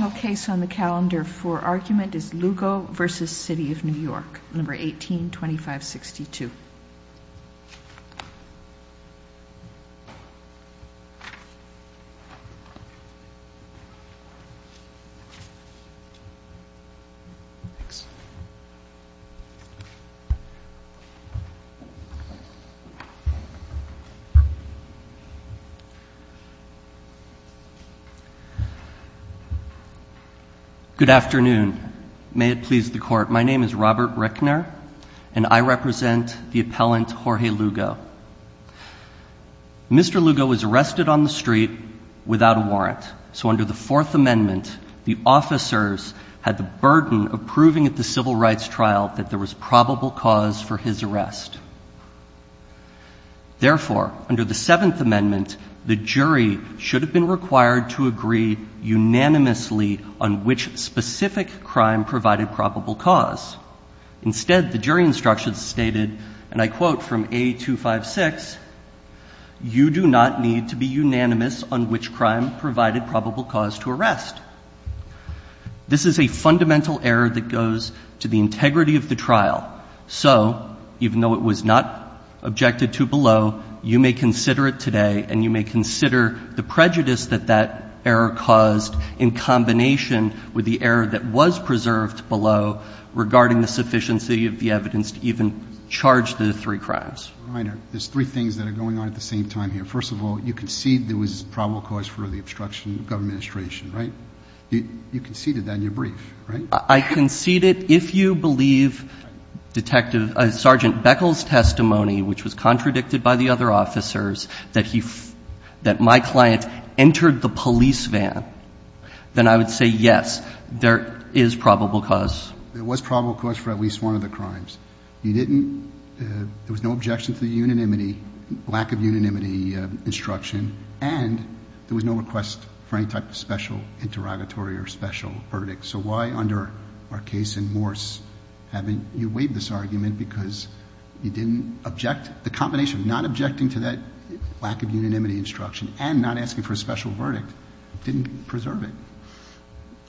Final case on the calendar for argument is Lugo v. City of New York, No. 18-2562. Good afternoon. May it please the Court, my name is Robert Rickner, and I represent the appellant Jorge Lugo. Mr. Lugo was arrested on the street without a warrant, so under the Fourth Amendment, the officers had the burden of proving at the civil rights trial that there was probable cause for his arrest. Therefore, under the Seventh Amendment, the specific crime provided probable cause. Instead, the jury instructions stated, and I quote from A. 256, you do not need to be unanimous on which crime provided probable cause to arrest. This is a fundamental error that goes to the integrity of the trial. So, even though it was not objected to below, you may consider it today, and you may consider the prejudice that that error caused in combination with the error that was preserved below regarding the sufficiency of the evidence to even charge the three crimes. All right. Now, there's three things that are going on at the same time here. First of all, you conceded there was probable cause for the obstruction of government administration, right? You conceded that in your brief, right? I conceded, if you believe, Detective — Sergeant Beckel's testimony, which was contradicted by the other officers, that my client entered the police van, then I would say, yes, there is probable cause. There was probable cause for at least one of the crimes. You didn't — there was no objection to the unanimity, lack of unanimity instruction, and there was no request for any type of special interrogatory or special verdict. So why, under our case in Morse, haven't you weighed this argument because you didn't object? The combination of not objecting to that lack of unanimity instruction and not asking for a special verdict didn't preserve it.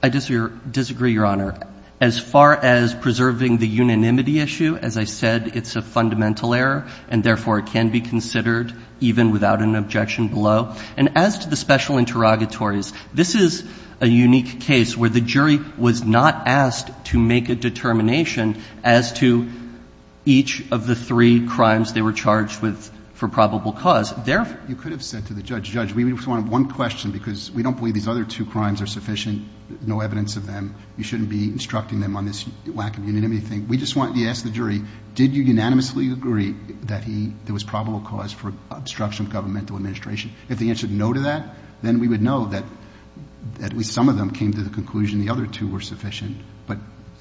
I disagree, Your Honor. As far as preserving the unanimity issue, as I said, it's a fundamental error, and therefore, it can be considered even without an objection below. And as to the special interrogatories, this is a unique case where the jury was not asked to make a determination as to each of the three crimes they were charged with for probable cause. You could have said to the judge, Judge, we just wanted one question because we don't believe these other two crimes are sufficient, no evidence of them. You shouldn't be instructing them on this lack of unanimity thing. We just want — you asked the jury, did you unanimously agree that he — there was probable cause for obstruction of governmental administration? If the answer is no to that, then we would know that at least some of them came to the court.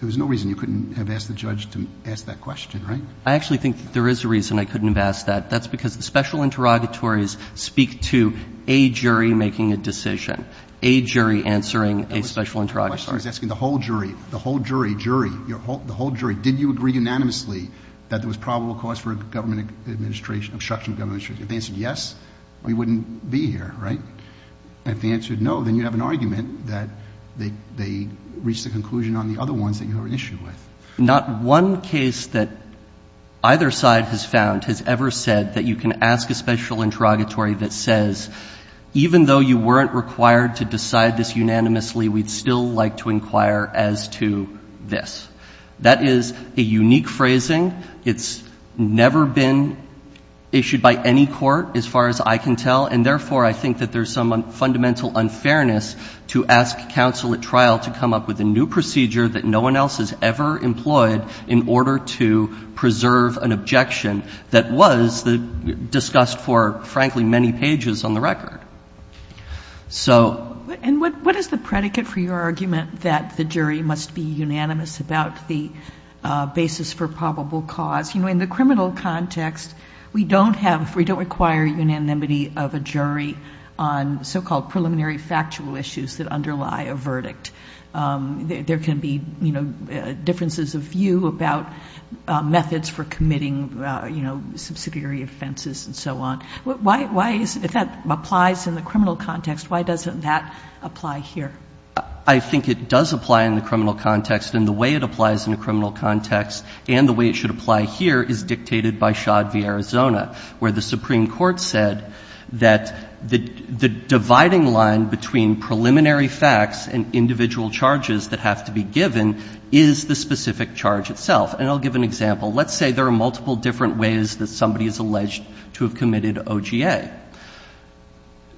And there's no reason you couldn't have asked the judge to ask that question, right? I actually think there is a reason I couldn't have asked that. That's because the special interrogatories speak to a jury making a decision, a jury answering a special interrogatory. The question is asking the whole jury, the whole jury, jury, the whole jury, did you agree unanimously that there was probable cause for government administration — obstruction of government administration? If the answer is yes, we wouldn't be here, right? If the answer is no, then you have an argument that they reached a conclusion on the other ones that you have an issue with. Not one case that either side has found has ever said that you can ask a special interrogatory that says, even though you weren't required to decide this unanimously, we'd still like to inquire as to this. That is a unique phrasing. It's never been issued by any court, as far as I can tell, and therefore, I think that there's some fundamental unfairness to ask counsel at trial to come up with a new procedure that no one else has ever employed in order to preserve an objection that was discussed for, frankly, many pages on the record. So — And what is the predicate for your argument that the jury must be unanimous about the basis for probable cause? You know, in the criminal context, we don't have — we don't require unanimity of a jury on so-called preliminary factual issues that underlie a verdict. There can be, you know, differences of view about methods for committing, you know, subsidiary offenses and so on. Why is — if that applies in the criminal context, why doesn't that apply here? I think it does apply in the criminal context, and the way it applies in the criminal context and the way it should apply here is dictated by Shod v. Arizona, where the Supreme Court's ruling line between preliminary facts and individual charges that have to be given is the specific charge itself. And I'll give an example. Let's say there are multiple different ways that somebody is alleged to have committed OGA.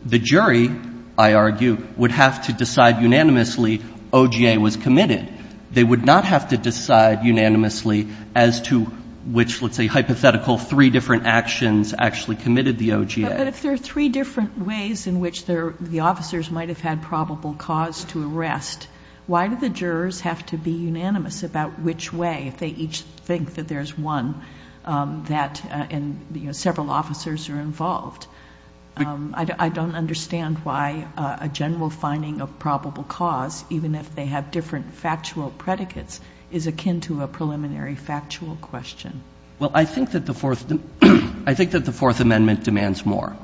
The jury, I argue, would have to decide unanimously OGA was committed. They would not have to decide unanimously as to which, let's say, hypothetical three different actions actually committed the OGA. But if there are three different ways in which the officers might have had probable cause to arrest, why do the jurors have to be unanimous about which way, if they each think that there's one that — and, you know, several officers are involved? I don't understand why a general finding of probable cause, even if they have different factual predicates, is akin to a preliminary factual question. Well, I think that the Fourth — I think that the Fourth Amendment demands more.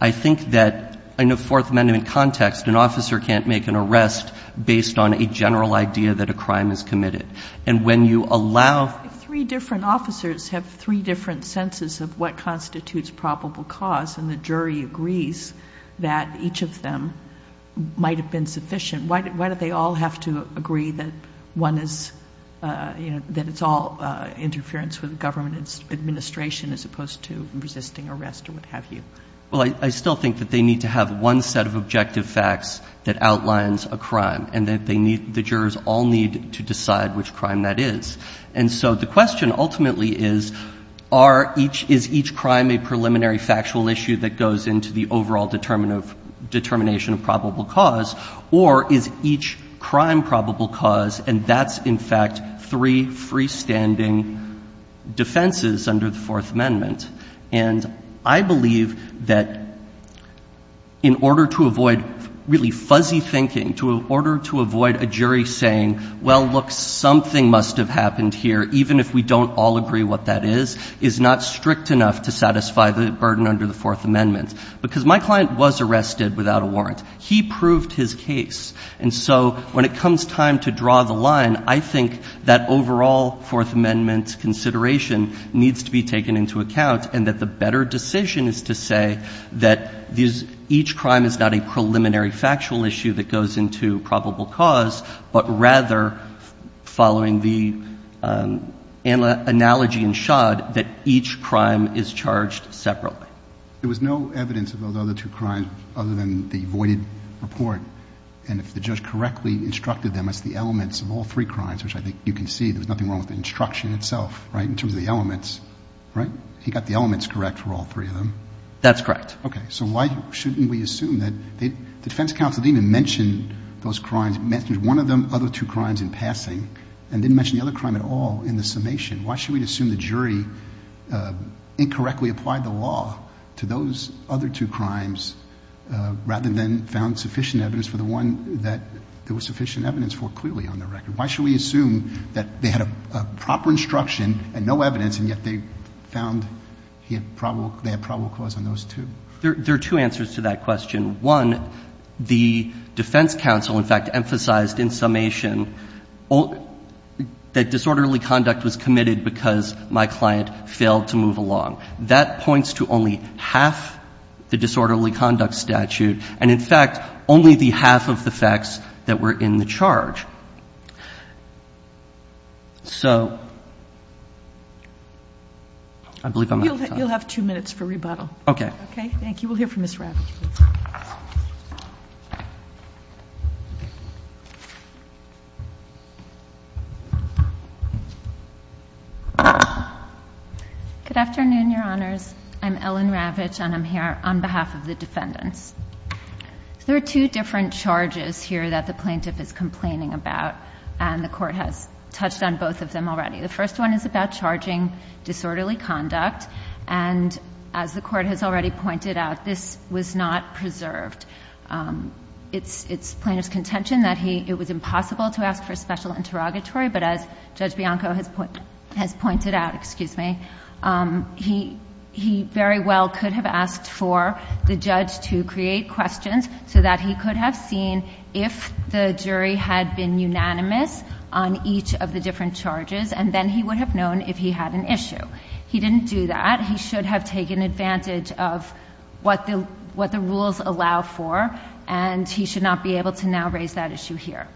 I think that in a Fourth Amendment context, an officer can't make an arrest based on a general idea that a crime is committed. And when you allow — If three different officers have three different senses of what constitutes probable cause and the jury agrees that each of them might have been sufficient, why don't they all have to agree that one is — you know, that it's all interference with government administration as opposed to resisting arrest or what have you? Well, I still think that they need to have one set of objective facts that outlines a crime and that they need — the jurors all need to decide which crime that is. And so the question ultimately is, are each — is each crime a preliminary factual issue that goes into the overall determination of probable cause, or is each crime a preliminary factual issue that goes into the overall determination of probable cause, and that's, in fact, three freestanding defenses under the Fourth Amendment? And I believe that in order to avoid really fuzzy thinking, to — in order to avoid a jury saying, well, look, something must have happened here, even if we don't all draw the line, I think that overall Fourth Amendment consideration needs to be taken into account and that the better decision is to say that these — each crime is not a preliminary factual issue that goes into probable cause, but rather following the analogy in Schad that each crime is charged separately. There was no evidence of those other two crimes other than the voided report, and if the judge correctly instructed them as the elements of all three crimes, which I think you can see there was nothing wrong with the instruction itself, right, in terms of the elements, right? He got the elements correct for all three of them. That's correct. Okay. So why shouldn't we assume that the defense counsel didn't even mention those crimes — mentioned one of the other two crimes in passing and didn't mention the other crime at all in the summation? Why should we assume the jury incorrectly applied the law to those other two crimes rather than found sufficient evidence for the one that there was sufficient evidence for clearly on the record? Why should we assume that they had a proper instruction and no evidence, and yet they found they had probable cause on those two? There are two answers to that question. One, the defense counsel, in fact, emphasized in summation that disorderly conduct was committed because my client failed to move along. That points to only half the disorderly conduct statute, and in fact, only the half of the facts that were in the charge. So I believe I'm out of time. You'll have two minutes for rebuttal. Okay. Okay? We'll hear from Ms. Ravitch, please. Good afternoon, Your Honors. I'm Ellen Ravitch, and I'm here on behalf of the defendants. There are two different charges here that the plaintiff is complaining about, and the Court has touched on both of them already. The first one is about charging disorderly conduct, and as the Court has already pointed out, this was not preserved. It's plaintiff's contention that it was impossible to ask for a special interrogatory, but as Judge Bianco has pointed out, he very well could have asked for the judge to create questions so that he could have seen if the jury had been unanimous on each of the different charges, and then he would have known if he had an issue. He didn't do that. He should have taken advantage of what the rules allow for, and he should not be able to now raise that issue here.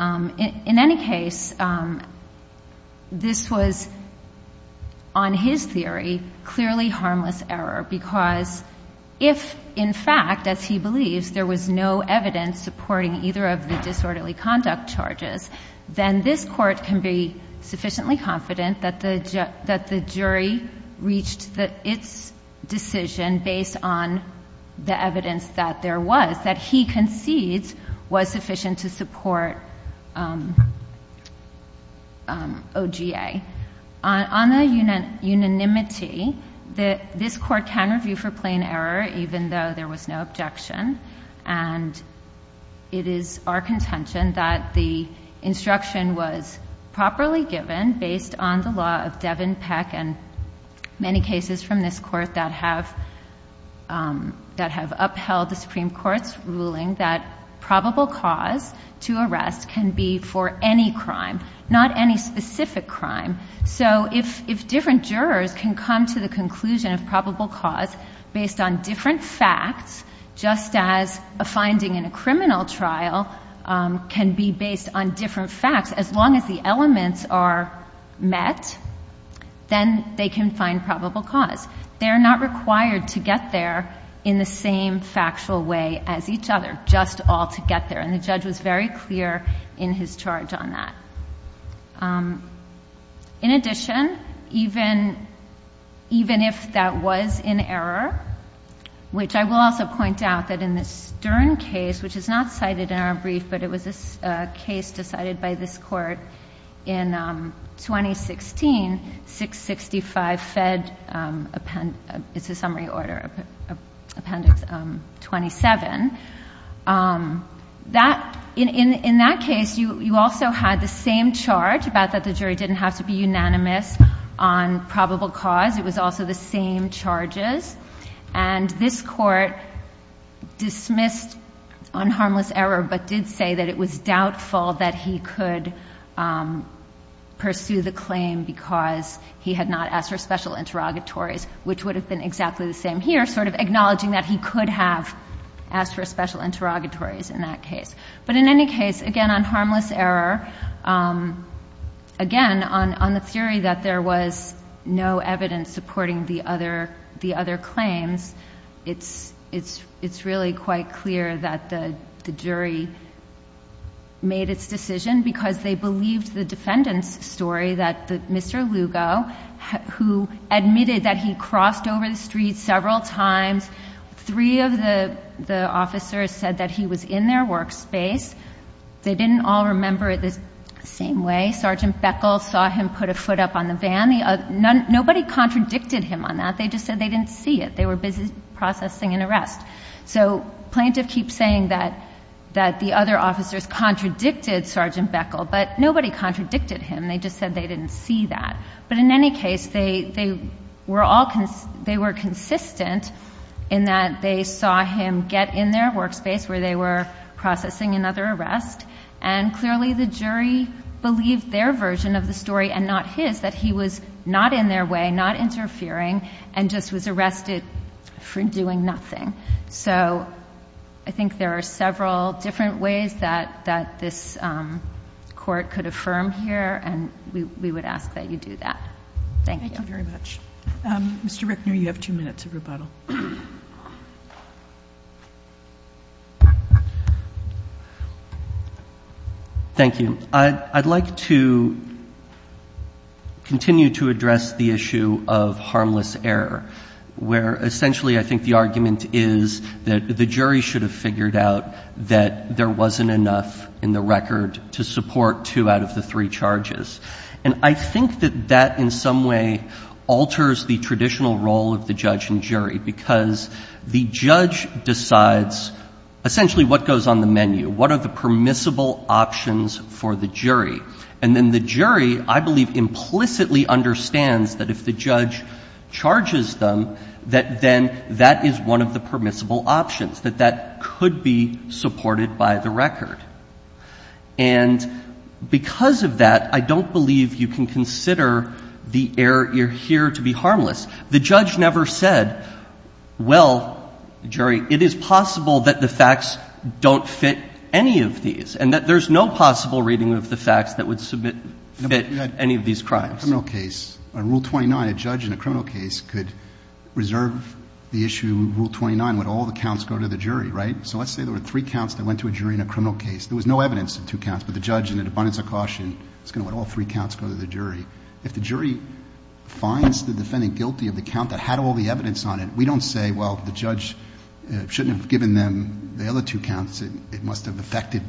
In any case, this was, on his theory, clearly harmless error, because if, in fact, as he believes, there was no evidence supporting either of the disorderly conduct charges, then this Court can be sufficiently confident that the jury reached its decision based on the evidence that there was, that he concedes was sufficient to support OGA. On the unanimity, this Court can review for plain error, even though there was no objection, and it is our contention that the instruction was properly given based on the law of Devin Peck and many cases from this Court that have upheld the Supreme Court's ruling that probable cause to arrest can be for any crime, not any specific crime. So if different jurors can come to the conclusion of probable cause based on different facts, just as a finding in a criminal trial can be based on different facts, as long as the elements are met, then they can find probable cause. They are not required to get there in the same factual way as each other, just all to get there, and the judge was very clear in his charge on that. In addition, even if that was in error, which I will also point out that in the Stern case, which is not cited in our brief, but it was a case decided by this Court in 2016, 665 Fed appendix, it's a summary order, appendix 27, in that case, you also had the same charge about that the jury didn't have to be unanimous on probable cause. It was also the same charges, and this Court dismissed unharmless error, but did say that it was doubtful that he could pursue the claim because he had not asked for special interrogatories, which would have been exactly the same here, sort of acknowledging that he could have asked for special interrogatories in that case. But in any case, again, on harmless error, again, on the theory that there was no evidence supporting the other claims, it's really quite clear that the jury made its decision because they believed the defendant's story that Mr. Lugo, who admitted that he crossed over the street several times, three of the officers said that he was in their workspace. They didn't all remember it the same way. Sergeant Beckel saw him put a foot up on the van. Nobody contradicted him on that. They just said they didn't see it. They were busy processing an arrest. So plaintiff keeps saying that the other officers contradicted Sergeant Beckel, but nobody contradicted him. They just said they didn't see that. But in any case, they were consistent in that they saw him get in their workspace where they were processing another arrest, and clearly the jury believed their version of the story and not his, that he was not in their way, not interfering, and just was arrested for doing nothing. So I think there are several different ways that this court could affirm here, and we would ask that you do that. Thank you. Thank you very much. Mr. Rickner, you have two minutes of rebuttal. Thank you. I'd like to continue to address the issue of harmless error, where essentially I think the argument is that the jury should have figured out that there wasn't enough in the record to support two out of the three charges. And I think that that in some way alters the traditional role of the judge and jury because the judge decides essentially what goes on the menu, what are the permissible options for the jury. And then the jury, I believe, implicitly understands that if the judge charges them, that then that is one of the permissible options, that that could be supported by the record. And because of that, I don't believe you can consider the error here to be harmless. The judge never said, well, jury, it is possible that the facts don't fit any of these And there's no possible reading of the facts that would submit any of these crimes. A criminal case, Rule 29, a judge in a criminal case could reserve the issue of Rule 29, let all the counts go to the jury, right? So let's say there were three counts that went to a jury in a criminal case. There was no evidence of two counts, but the judge in an abundance of caution is going to let all three counts go to the jury. If the jury finds the defendant guilty of the count that had all the evidence on it, we don't say, well, the judge shouldn't have given them the other two counts. It must have affected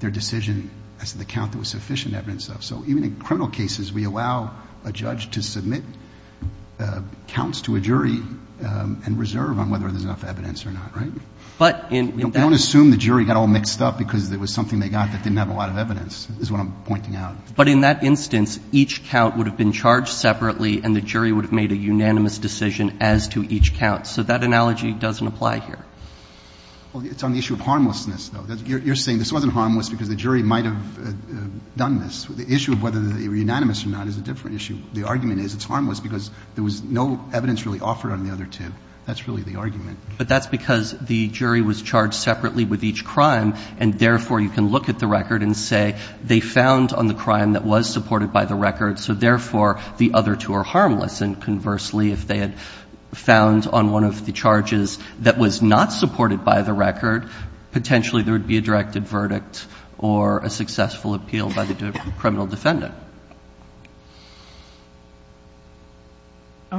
their decision as to the count there was sufficient evidence of. So even in criminal cases, we allow a judge to submit counts to a jury and reserve on whether there's enough evidence or not, right? We don't assume the jury got all mixed up because there was something they got that didn't have a lot of evidence, is what I'm pointing out. But in that instance, each count would have been charged separately and the jury would have made a unanimous decision as to each count. So that analogy doesn't apply here. Well, it's on the issue of harmlessness, though. You're saying this wasn't harmless because the jury might have done this. The issue of whether they were unanimous or not is a different issue. The argument is it's harmless because there was no evidence really offered on the other two. That's really the argument. But that's because the jury was charged separately with each crime, and therefore you can look at the record and say they found on the crime that was supported by the record, so therefore the other two are harmless. And conversely, if they had found on one of the charges that was not supported by the record, potentially there would be a directed verdict or a successful appeal by the criminal defendant.